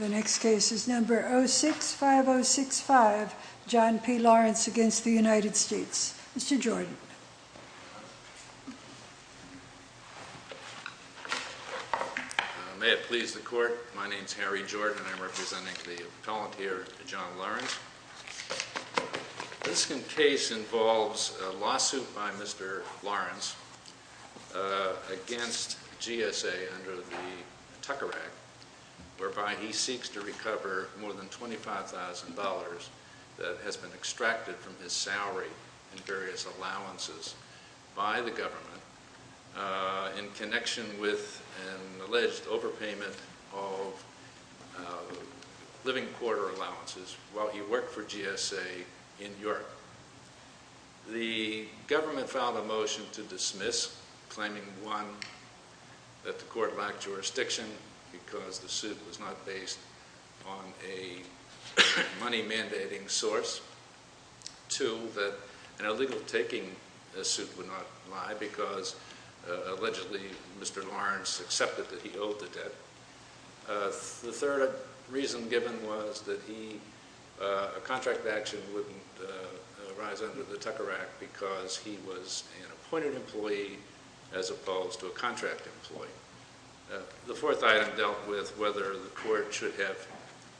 The next case is number 065065, John P. Lawrence against the United States. Mr. Jordan. May it please the court. My name is Harry Jordan. I'm representing the appellant here, John Lawrence. This case involves a lawsuit by Mr. Lawrence against GSA under the Tucker Act, whereby he seeks to recover more than $25,000 that has been extracted from his salary in various allowances. by the government in connection with an alleged overpayment of living quarter allowances while he worked for GSA in Europe. The government filed a motion to dismiss, claiming, one, that the court lacked jurisdiction because the suit was not based on a money-mandating source. Two, that an illegal-taking suit would not lie because, allegedly, Mr. Lawrence accepted that he owed the debt. The third reason given was that a contract action wouldn't arise under the Tucker Act because he was an appointed employee as opposed to a contract employee. The fourth item dealt with whether the court should have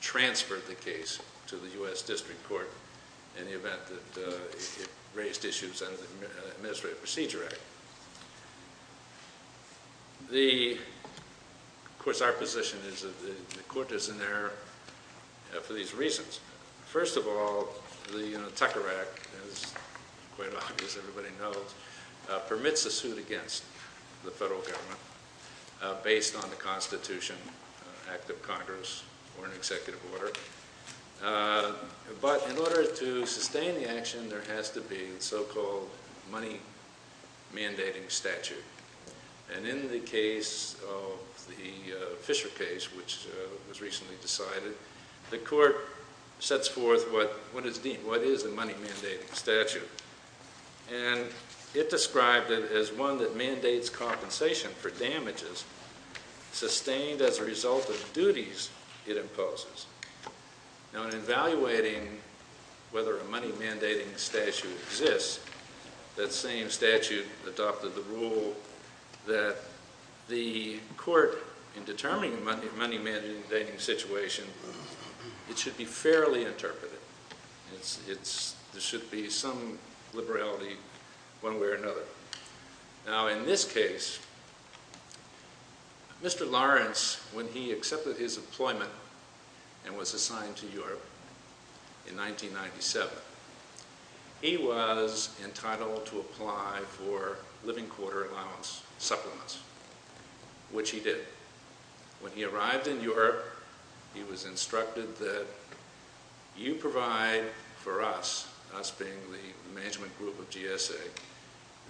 transferred the case to the U.S. District Court in the event that it raised issues under the Administrative Procedure Act. Of course, our position is that the court is in error for these reasons. First of all, the Tucker Act, as quite obvious, everybody knows, permits a suit against the federal government based on the Constitution, Act of Congress, or an executive order. But in order to sustain the action, there has to be a so-called money-mandating statute. And in the case of the Fisher case, which was recently decided, the court sets forth what is the money-mandating statute. And it described it as one that mandates compensation for damages sustained as a result of duties it imposes. Now, in evaluating whether a money-mandating statute exists, that same statute adopted the rule that the court, in determining a money-mandating situation, it should be fairly interpreted. There should be some liberality one way or another. Now, in this case, Mr. Lawrence, when he accepted his employment and was assigned to Europe in 1997, he was entitled to apply for living quarter allowance supplements, which he did. When he arrived in Europe, he was instructed that you provide for us, us being the management group of GSA,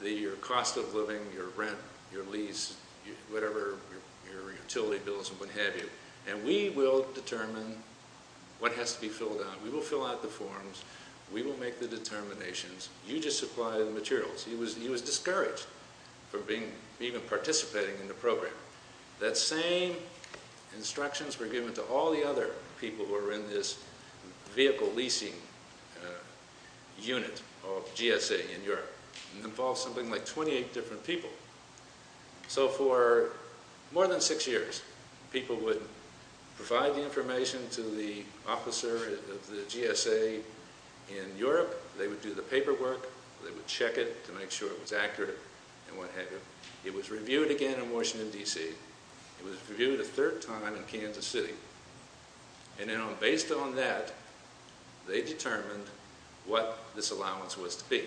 the cost of living, your rent, your lease, whatever, your utility bills and what have you. And we will determine what has to be filled out. We will fill out the forms. We will make the determinations. You just supply the materials. He was discouraged from even participating in the program. That same instructions were given to all the other people who were in this vehicle leasing unit of GSA in Europe. It involved something like 28 different people. So for more than six years, people would provide the information to the officer of the GSA in Europe. They would do the paperwork. They would check it to make sure it was accurate and what have you. It was reviewed again in Washington, D.C. It was reviewed a third time in Kansas City. And based on that, they determined what this allowance was to be.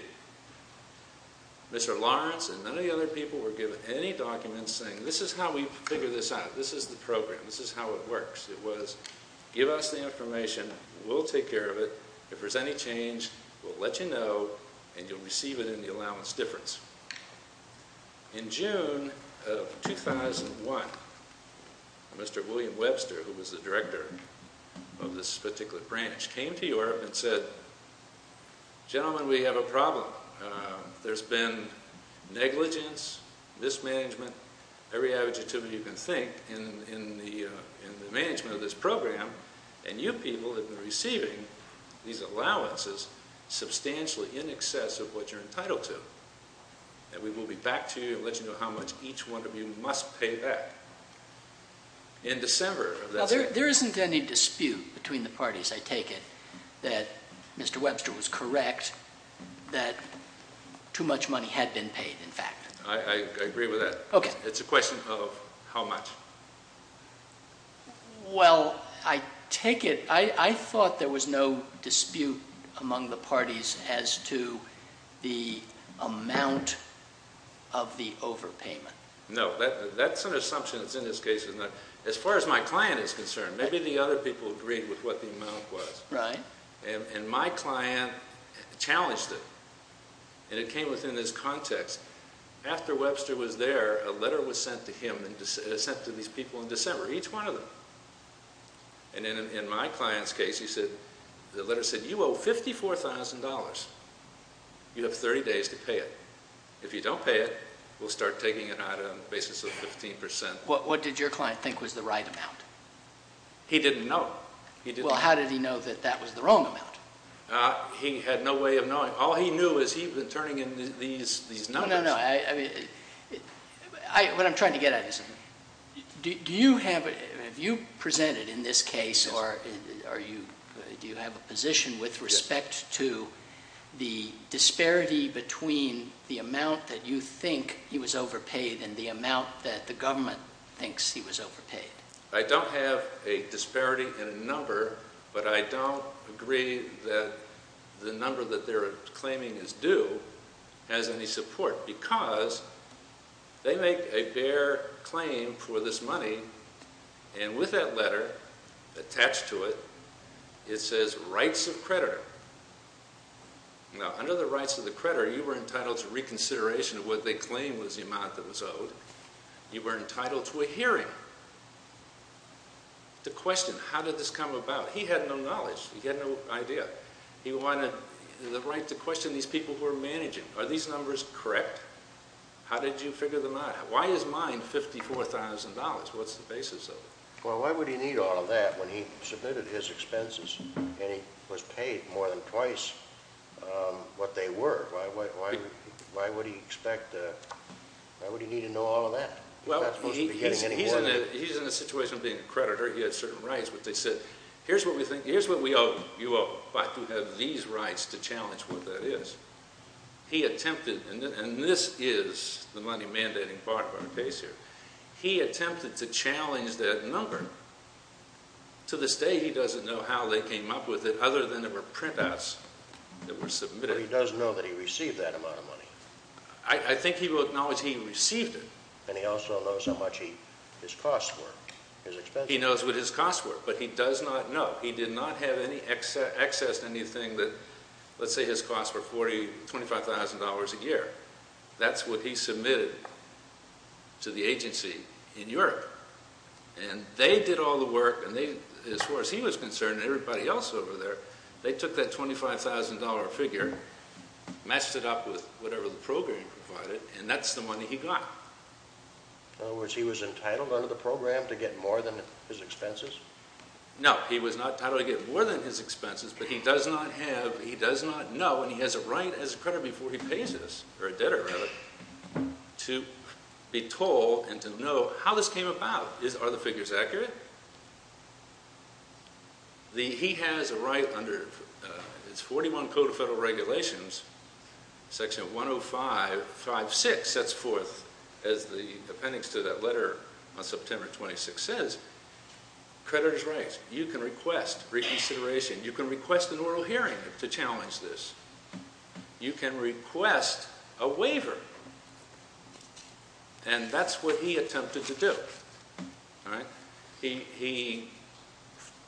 Mr. Lawrence and many other people were given any documents saying this is how we figure this out. This is the program. This is how it works. It was give us the information. We'll take care of it. If there's any change, we'll let you know, and you'll receive it in the allowance difference. In June of 2001, Mr. William Webster, who was the director of this particular branch, came to Europe and said, gentlemen, we have a problem. There's been negligence, mismanagement, every adjective you can think in the management of this program, and you people have been receiving these allowances substantially in excess of what you're entitled to. And we will be back to you and let you know how much each one of you must pay back. In December of that same year. There isn't any dispute between the parties, I take it, that Mr. Webster was correct that too much money had been paid, in fact. I agree with that. Okay. It's a question of how much. Well, I take it, I thought there was no dispute among the parties as to the amount of the overpayment. No. That's an assumption that's in this case. As far as my client is concerned, maybe the other people agreed with what the amount was. Right. And my client challenged it. And it came within his context. After Webster was there, a letter was sent to him and sent to these people in December, each one of them. And in my client's case, the letter said, you owe $54,000. You have 30 days to pay it. If you don't pay it, we'll start taking it out on the basis of 15%. What did your client think was the right amount? He didn't know. Well, how did he know that that was the wrong amount? He had no way of knowing. All he knew is he had been turning in these numbers. No, no, no. What I'm trying to get at is do you have a position with respect to the disparity between the amount that you think he was overpaid and the amount that the government thinks he was overpaid? I don't have a disparity in a number, but I don't agree that the number that they're claiming is due has any support because they make a bare claim for this money, and with that letter attached to it, it says rights of creditor. Now, under the rights of the creditor, you were entitled to reconsideration of what they claimed was the amount that was owed. You were entitled to a hearing to question how did this come about. He had no knowledge. He had no idea. He wanted the right to question these people who were managing. Are these numbers correct? How did you figure them out? Why is mine $54,000? What's the basis of it? Well, why would he need all of that when he submitted his expenses and he was paid more than twice what they were? Why would he need to know all of that? He's not supposed to be getting any more than that. He's in a situation of being a creditor. He had certain rights, but they said, here's what we owe you. You ought to have these rights to challenge what that is. He attempted, and this is the money mandating part of our case here. He attempted to challenge that number. To this day, he doesn't know how they came up with it other than there were printouts that were submitted. But he does know that he received that amount of money. I think he will acknowledge he received it. And he also knows how much his costs were, his expenses. He knows what his costs were, but he does not know. He did not have any access to anything that, let's say his costs were $25,000 a year. That's what he submitted to the agency in Europe. And they did all the work, and as far as he was concerned and everybody else over there, they took that $25,000 figure, matched it up with whatever the program provided, and that's the money he got. In other words, he was entitled under the program to get more than his expenses? No, he was not entitled to get more than his expenses, but he does not have, he does not know, and he has a right as a creditor before he pays this, or a debtor rather, to be told and to know how this came about. Are the figures accurate? He has a right under 41 Code of Federal Regulations, Section 105.5.6 sets forth, as the appendix to that letter on September 26th says, creditor's rights. You can request reconsideration. You can request an oral hearing to challenge this. You can request a waiver. And that's what he attempted to do. He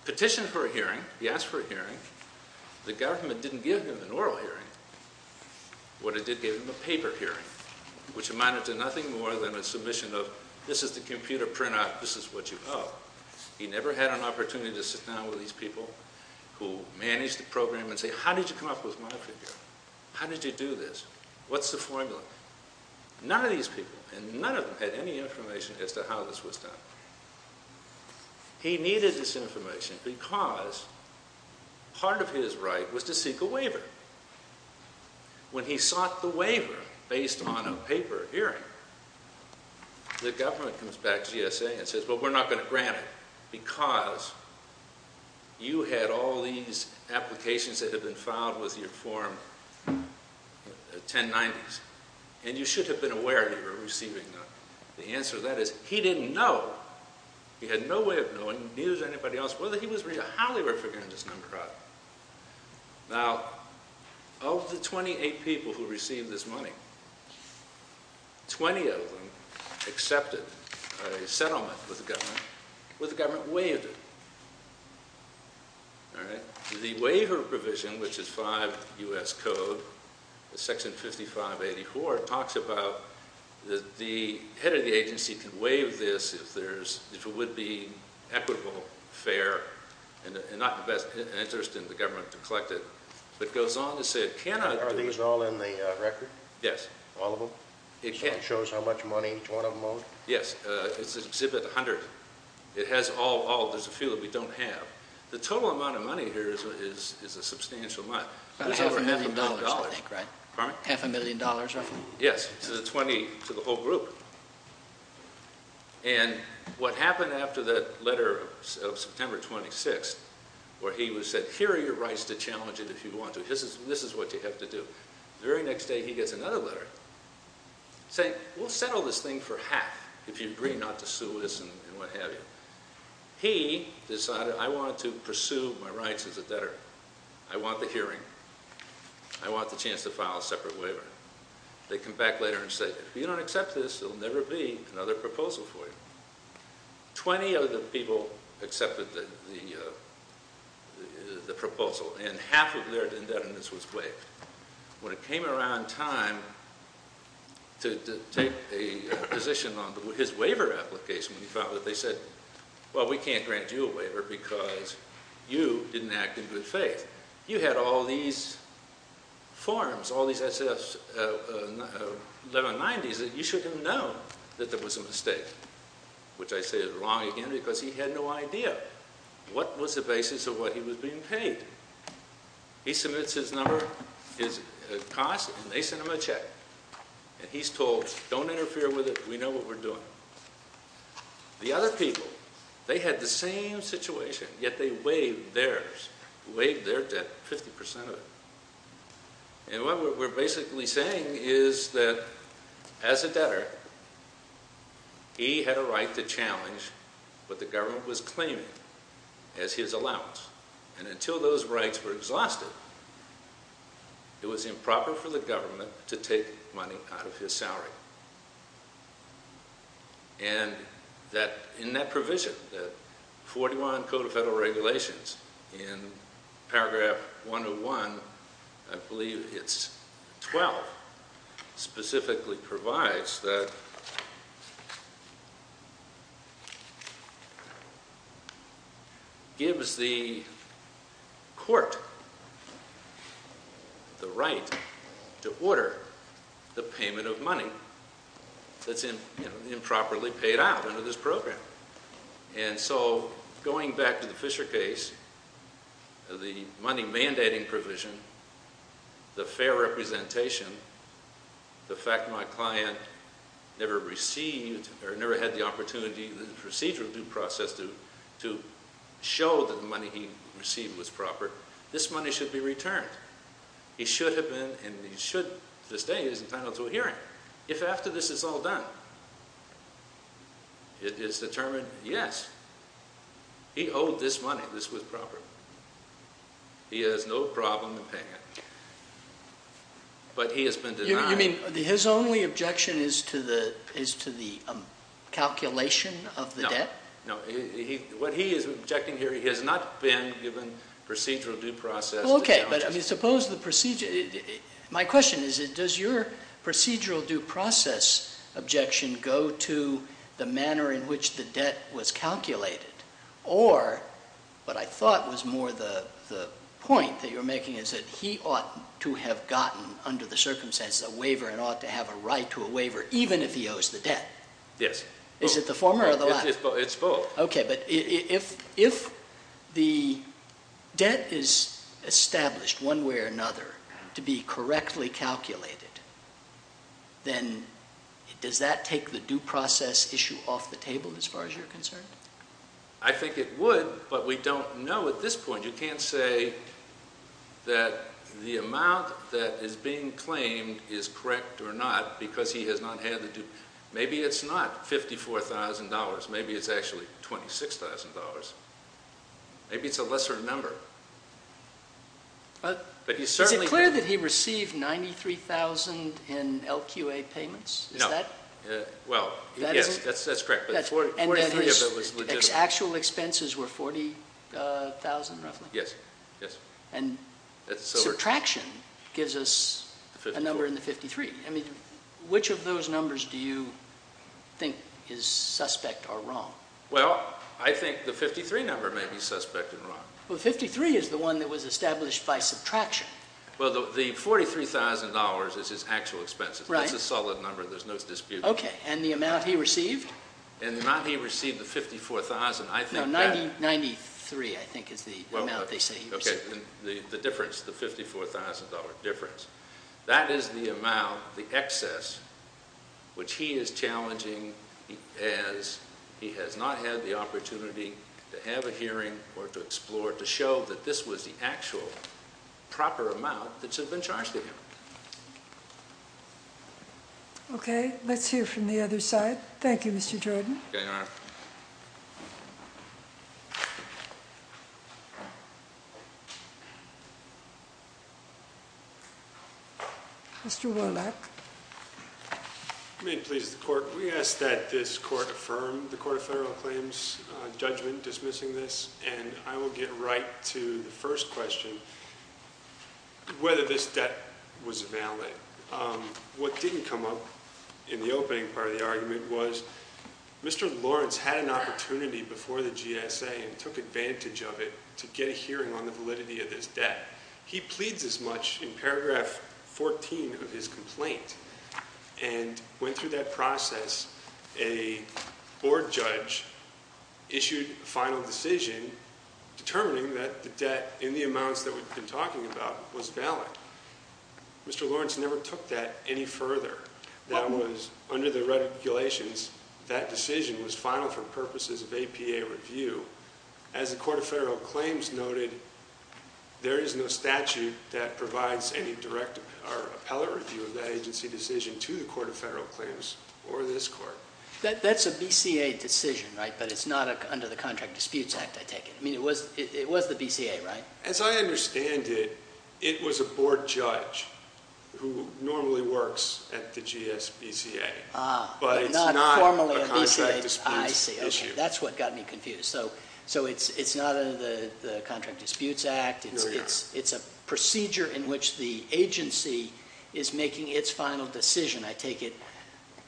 petitioned for a hearing. He asked for a hearing. The government didn't give him an oral hearing, but it did give him a paper hearing, which amounted to nothing more than a submission of this is the computer printout, this is what you owe. He never had an opportunity to sit down with these people who managed the program and say, how did you come up with my figure? How did you do this? What's the formula? None of these people, and none of them had any information as to how this was done. He needed this information because part of his right was to seek a waiver. When he sought the waiver based on a paper hearing, the government comes back to GSA and says, well, we're not going to grant it because you had all these applications that had been filed with your form in the 1090s, and you should have been aware that you were receiving them. The answer to that is he didn't know. He had no way of knowing, neither did anybody else, whether he was real or how they were figuring this number out. Now, of the 28 people who received this money, 20 of them accepted a settlement with the government, where the government waived it. The waiver provision, which is 5 U.S. Code, Section 5584, talks about the head of the agency can waive this if it would be equitable, fair, and not in the best interest of the government to collect it, but goes on to say it cannot. Are these all in the record? Yes. All of them? It shows how much money each one of them owes? Yes. It's Exhibit 100. There's a few that we don't have. The total amount of money here is a substantial amount. About half a million dollars, I think, right? Pardon? Half a million dollars? Yes. This is 20 to the whole group. And what happened after that letter of September 26, where he said, Here are your rights to challenge it if you want to. This is what you have to do. The very next day, he gets another letter saying, We'll settle this thing for half if you agree not to sue us and what have you. He decided, I want to pursue my rights as a debtor. I want the hearing. I want the chance to file a separate waiver. They come back later and say, If you don't accept this, there'll never be another proposal for you. Twenty of the people accepted the proposal, and half of their indebtedness was waived. When it came around time to take a position on his waiver application, we found that they said, Well, we can't grant you a waiver because you didn't act in good faith. You had all these forms, all these SF 1190s, that you should have known that there was a mistake, which I say is wrong again because he had no idea what was the basis of what he was being paid. He submits his number, his cost, and they send him a check. And he's told, Don't interfere with it. We know what we're doing. The other people, they had the same situation, yet they waived theirs. They waived their debt, 50% of it. And what we're basically saying is that as a debtor, he had a right to challenge what the government was claiming as his allowance. And until those rights were exhausted, it was improper for the government to take money out of his salary. And in that provision, the 41 Code of Federal Regulations, in paragraph 101, I believe it's 12, specifically provides that gives the court the right to order the payment of money that's improperly paid out under this program. And so going back to the Fisher case, the money mandating provision, the fair representation, the fact my client never received or never had the opportunity in the procedural due process to show that the money he received was proper, this money should be returned. He should have been, and he should to this day, he's entitled to a hearing. If after this it's all done, it is determined, Yes, he owed this money, this was proper. He has no problem in paying it, but he has been denied. You mean his only objection is to the calculation of the debt? No. What he is objecting here, he has not been given procedural due process. Okay, but suppose the procedure, my question is, does your procedural due process objection go to the manner in which the debt was calculated? Or what I thought was more the point that you're making is that he ought to have gotten under the circumstances a waiver and ought to have a right to a waiver even if he owes the debt. Yes. Is it the former or the latter? It's both. Okay, but if the debt is established one way or another to be correctly calculated, then does that take the due process issue off the table as far as you're concerned? I think it would, but we don't know at this point. You can't say that the amount that is being claimed is correct or not because he has not had the due. Maybe it's not $54,000. Maybe it's actually $26,000. Maybe it's a lesser number. Is it clear that he received $93,000 in LQA payments? No. Well, yes, that's correct. And that his actual expenses were $40,000 roughly? Yes. And subtraction gives us a number in the 53. I mean, which of those numbers do you think is suspect or wrong? Well, I think the 53 number may be suspect and wrong. Well, 53 is the one that was established by subtraction. Well, the $43,000 is his actual expenses. Right. That's a solid number. There's no dispute. Okay, and the amount he received? And the amount he received, the $54,000, I think that— No, 93, I think, is the amount they say he received. Okay, the difference, the $54,000 difference. That is the amount, the excess, which he is challenging as he has not had the opportunity to have a hearing or to explore to show that this was the actual proper amount that should have been charged to him. Okay, let's hear from the other side. Okay, Your Honor. Mr. Warlach. May it please the Court. We ask that this Court affirm the Court of Federal Claims judgment dismissing this, and I will get right to the first question, whether this debt was valid. What didn't come up in the opening part of the argument was Mr. Lawrence had an opportunity before the GSA and took advantage of it to get a hearing on the validity of this debt. He pleads as much in paragraph 14 of his complaint and went through that process. A board judge issued a final decision determining that the debt in the amounts that we've been talking about was valid. Mr. Lawrence never took that any further. That was under the regulations, that decision was final for purposes of APA review. As the Court of Federal Claims noted, there is no statute that provides any direct or appellate review of that agency decision to the Court of Federal Claims or this Court. That's a BCA decision, right, but it's not under the Contract Disputes Act, I take it. I mean, it was the BCA, right? As I understand it, it was a board judge who normally works at the GSBCA. Ah. But it's not a contract dispute issue. That's what got me confused. So it's not under the Contract Disputes Act. It's a procedure in which the agency is making its final decision, I take it,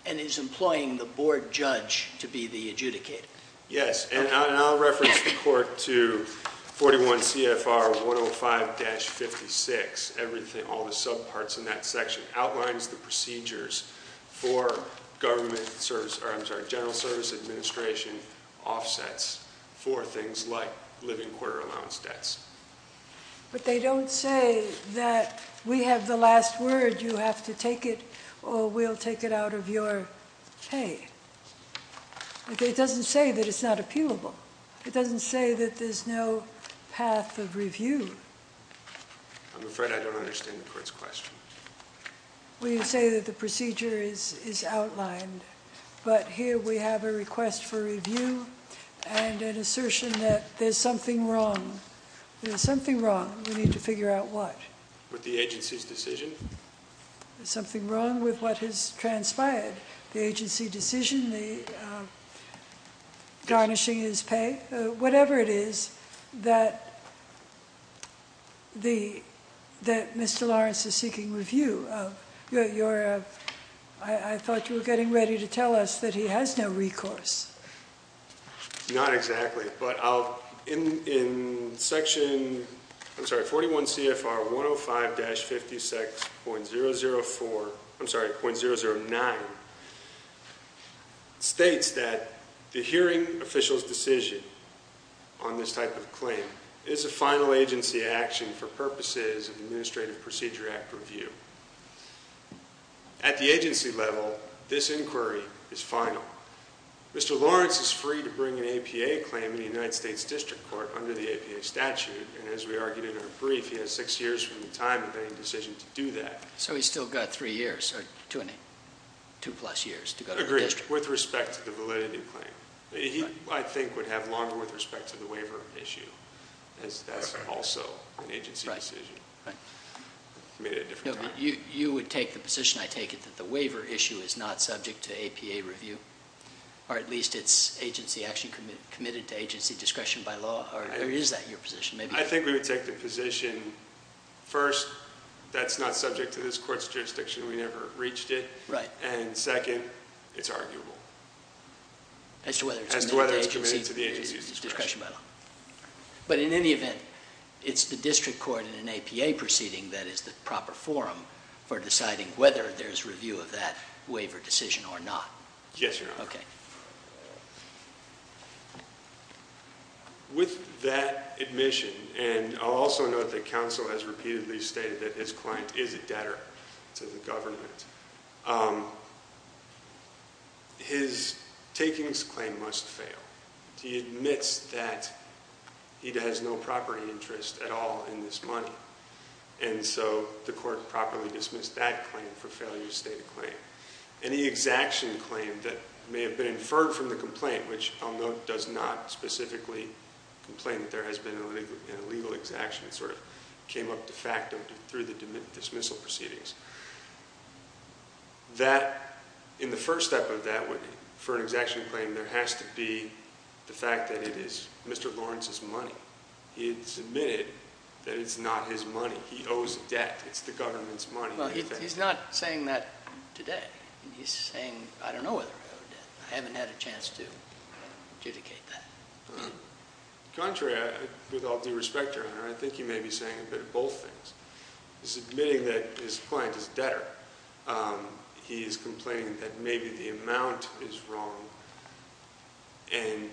and is employing the board judge to be the adjudicator. Yes, and I'll reference the Court to 41 CFR 105-56. Everything, all the subparts in that section outlines the procedures for government service, or I'm sorry, general service administration offsets for things like living quarter allowance debts. But they don't say that we have the last word, you have to take it or we'll take it out of your pay. It doesn't say that it's not appealable. It doesn't say that there's no path of review. I'm afraid I don't understand the Court's question. Well, you say that the procedure is outlined, but here we have a request for review and an assertion that there's something wrong. There's something wrong. We need to figure out what. With the agency's decision? There's something wrong with what has transpired. The agency decision, the garnishing his pay, whatever it is that Mr. Lawrence is seeking review of. I thought you were getting ready to tell us that he has no recourse. Not exactly, but in section 41 CFR 105-56.009 states that the hearing official's decision on this type of claim is a final agency action for purposes of Administrative Procedure Act review. At the agency level, this inquiry is final. Mr. Lawrence is free to bring an APA claim in the United States District Court under the APA statute, and as we argued in our brief, he has six years from the time of any decision to do that. So he's still got three years, or two plus years to go to the district. Agreed, with respect to the validity claim. He, I think, would have longer with respect to the waiver issue. That's also an agency decision. Right. He made it a different time. You would take the position, I take it, that the waiver issue is not subject to APA review, or at least it's agency action committed to agency discretion by law, or is that your position? I think we would take the position, first, that's not subject to this court's jurisdiction. We never reached it. Right. And second, it's arguable. As to whether it's committed to agency discretion by law. But in any event, it's the district court in an APA proceeding that is the proper forum for deciding whether there's review of that waiver decision or not. Yes, Your Honor. Okay. With that admission, and I'll also note that counsel has repeatedly stated that his client is a debtor to the government, his takings claim must fail. He admits that he has no property interest at all in this money, and so the court properly dismissed that claim for failure to state a claim. Any exaction claim that may have been inferred from the complaint, which I'll note does not specifically complain that there has been an illegal exaction, it sort of came up de facto through the dismissal proceedings. That, in the first step of that, for an exaction claim, there has to be the fact that it is Mr. Lawrence's money. He has admitted that it's not his money. He owes debt. It's the government's money. Well, he's not saying that today. He's saying, I don't know whether I owe debt. I haven't had a chance to adjudicate that. Contrary, with all due respect, Your Honor, I think he may be saying a bit of both things. He's admitting that his client is a debtor. He is complaining that maybe the amount is wrong, and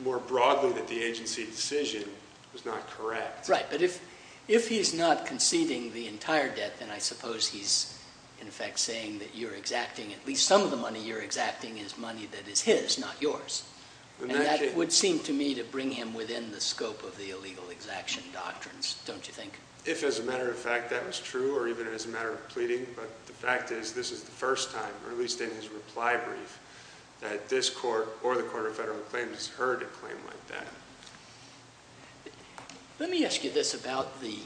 more broadly that the agency decision was not correct. Right, but if he's not conceding the entire debt, then I suppose he's, in effect, saying that you're exacting at least some of the money. You're exacting his money that is his, not yours. And that would seem to me to bring him within the scope of the illegal exaction doctrines, don't you think? If, as a matter of fact, that was true, or even as a matter of pleading, but the fact is this is the first time, or at least in his reply brief, that this court or the Court of Federal Claims has heard a claim like that. Let me ask you this about the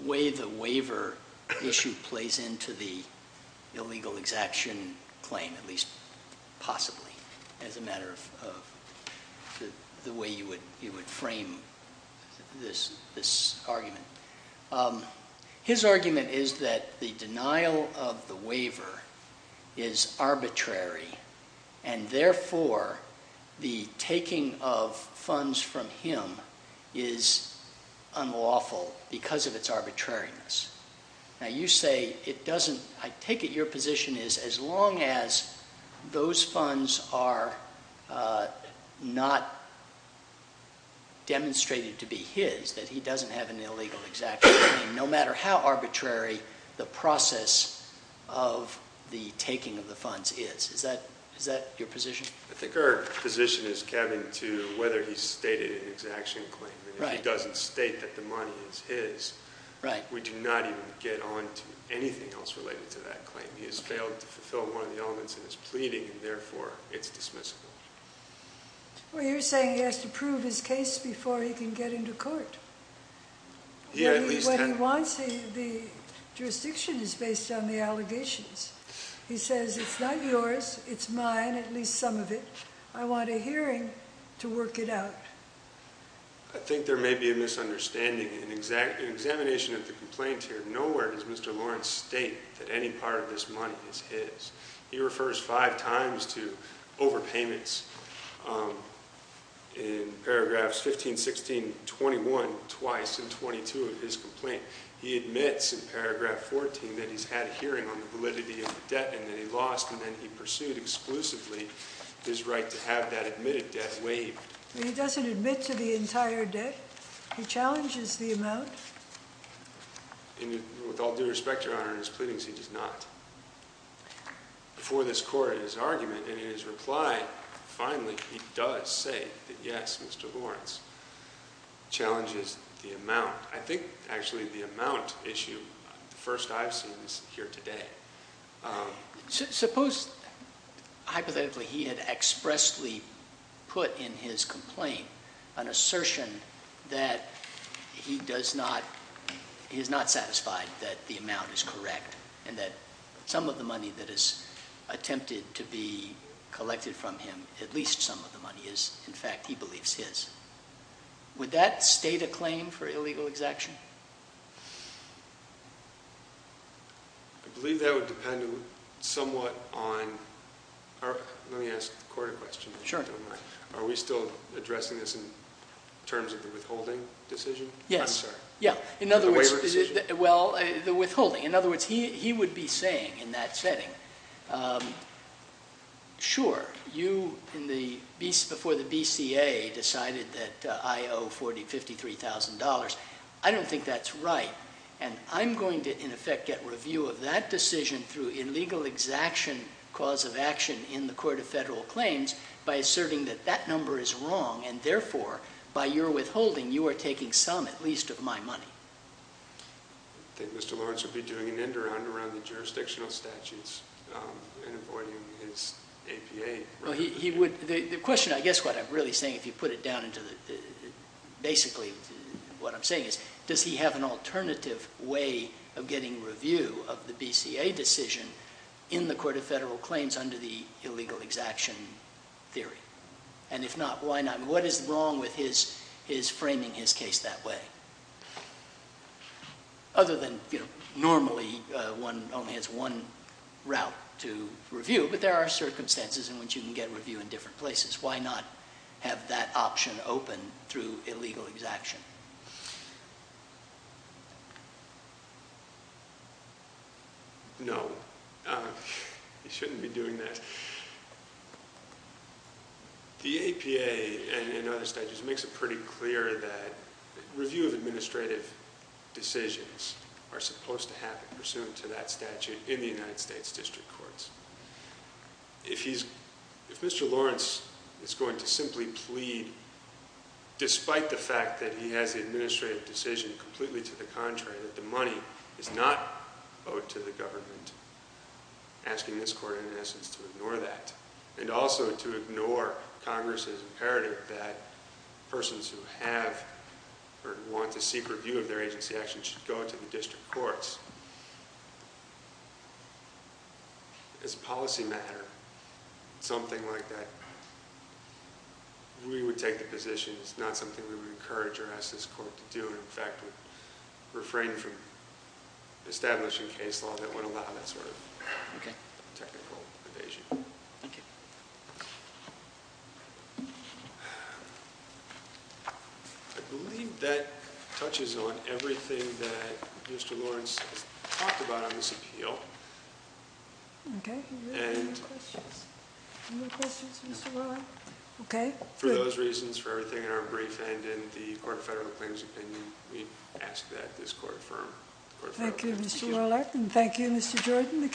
way the waiver issue plays into the illegal exaction claim, at least possibly as a matter of the way you would frame this argument. His argument is that the denial of the waiver is arbitrary, and therefore the taking of funds from him is unlawful because of its arbitrariness. Now you say it doesn't—I take it your position is as long as those funds are not demonstrated to be his, that he doesn't have an illegal exaction claim, no matter how arbitrary the process of the taking of the funds is. Is that your position? I think our position is, Kevin, to whether he's stated an exaction claim. If he doesn't state that the money is his, we do not even get on to anything else related to that claim. He has failed to fulfill one of the elements in his pleading, and therefore it's dismissible. Well, you're saying he has to prove his case before he can get into court. What he wants, the jurisdiction is based on the allegations. He says it's not yours, it's mine, at least some of it. I want a hearing to work it out. I think there may be a misunderstanding. In examination of the complaint here, nowhere does Mr. Lawrence state that any part of this money is his. He refers five times to overpayments in paragraphs 15, 16, 21, twice, and 22 of his complaint. He admits in paragraph 14 that he's had a hearing on the validity of the debt and that he lost, and then he pursued exclusively his right to have that admitted debt waived. He doesn't admit to the entire debt? He challenges the amount? With all due respect, Your Honor, in his pleadings, he does not. Before this court, in his argument and in his reply, finally, he does say that, yes, Mr. Lawrence challenges the amount. I think, actually, the amount issue, the first I've seen is here today. Suppose, hypothetically, he had expressly put in his complaint an assertion that he is not satisfied that the amount is correct and that some of the money that is attempted to be collected from him, at least some of the money, is, in fact, he believes, his. Would that state a claim for illegal exaction? I believe that would depend somewhat on – let me ask the court a question. Sure. Are we still addressing this in terms of the withholding decision? Yes. I'm sorry. Yeah. The waiver decision? Well, the withholding. In other words, he would be saying in that setting, sure, you, before the BCA, decided that I owe $53,000. I don't think that's right, and I'm going to, in effect, get review of that decision through illegal exaction cause of action in the Court of Federal Claims by asserting that that number is wrong and, therefore, by your withholding, you are taking some, at least, of my money. I think Mr. Lawrence would be doing an end-around around the jurisdictional statutes and avoiding his APA. The question, I guess, what I'm really saying, if you put it down into the – basically, what I'm saying is, does he have an alternative way of getting review of the BCA decision in the Court of Federal Claims under the illegal exaction theory? And if not, why not? What is wrong with his framing his case that way? Other than, you know, normally one only has one route to review, but there are circumstances in which you can get review in different places. Why not have that option open through illegal exaction? No. He shouldn't be doing that. The APA and other statutes makes it pretty clear that review of administrative decisions are supposed to happen pursuant to that statute in the United States District Courts. If he's – if Mr. Lawrence is going to simply plead, despite the fact that he has the administrative decision completely to the contrary, that the money is not owed to the government, asking this Court, in essence, to ignore that, and also to ignore Congress's imperative that persons who have or want to seek review of their agency action should go to the district courts. As a policy matter, something like that, we would take the position. It's not something we would encourage or ask this Court to do. In fact, we'd refrain from establishing case law that would allow that sort of technical evasion. Thank you. I believe that touches on everything that Mr. Lawrence has talked about on this appeal. Okay. Any more questions? Any more questions for Mr. Rowan? Okay. For those reasons, for everything in our brief, and in the Court of Federal Claims opinion, we ask that this Court affirm. Thank you, Mr. Warlock, and thank you, Mr. Jordan.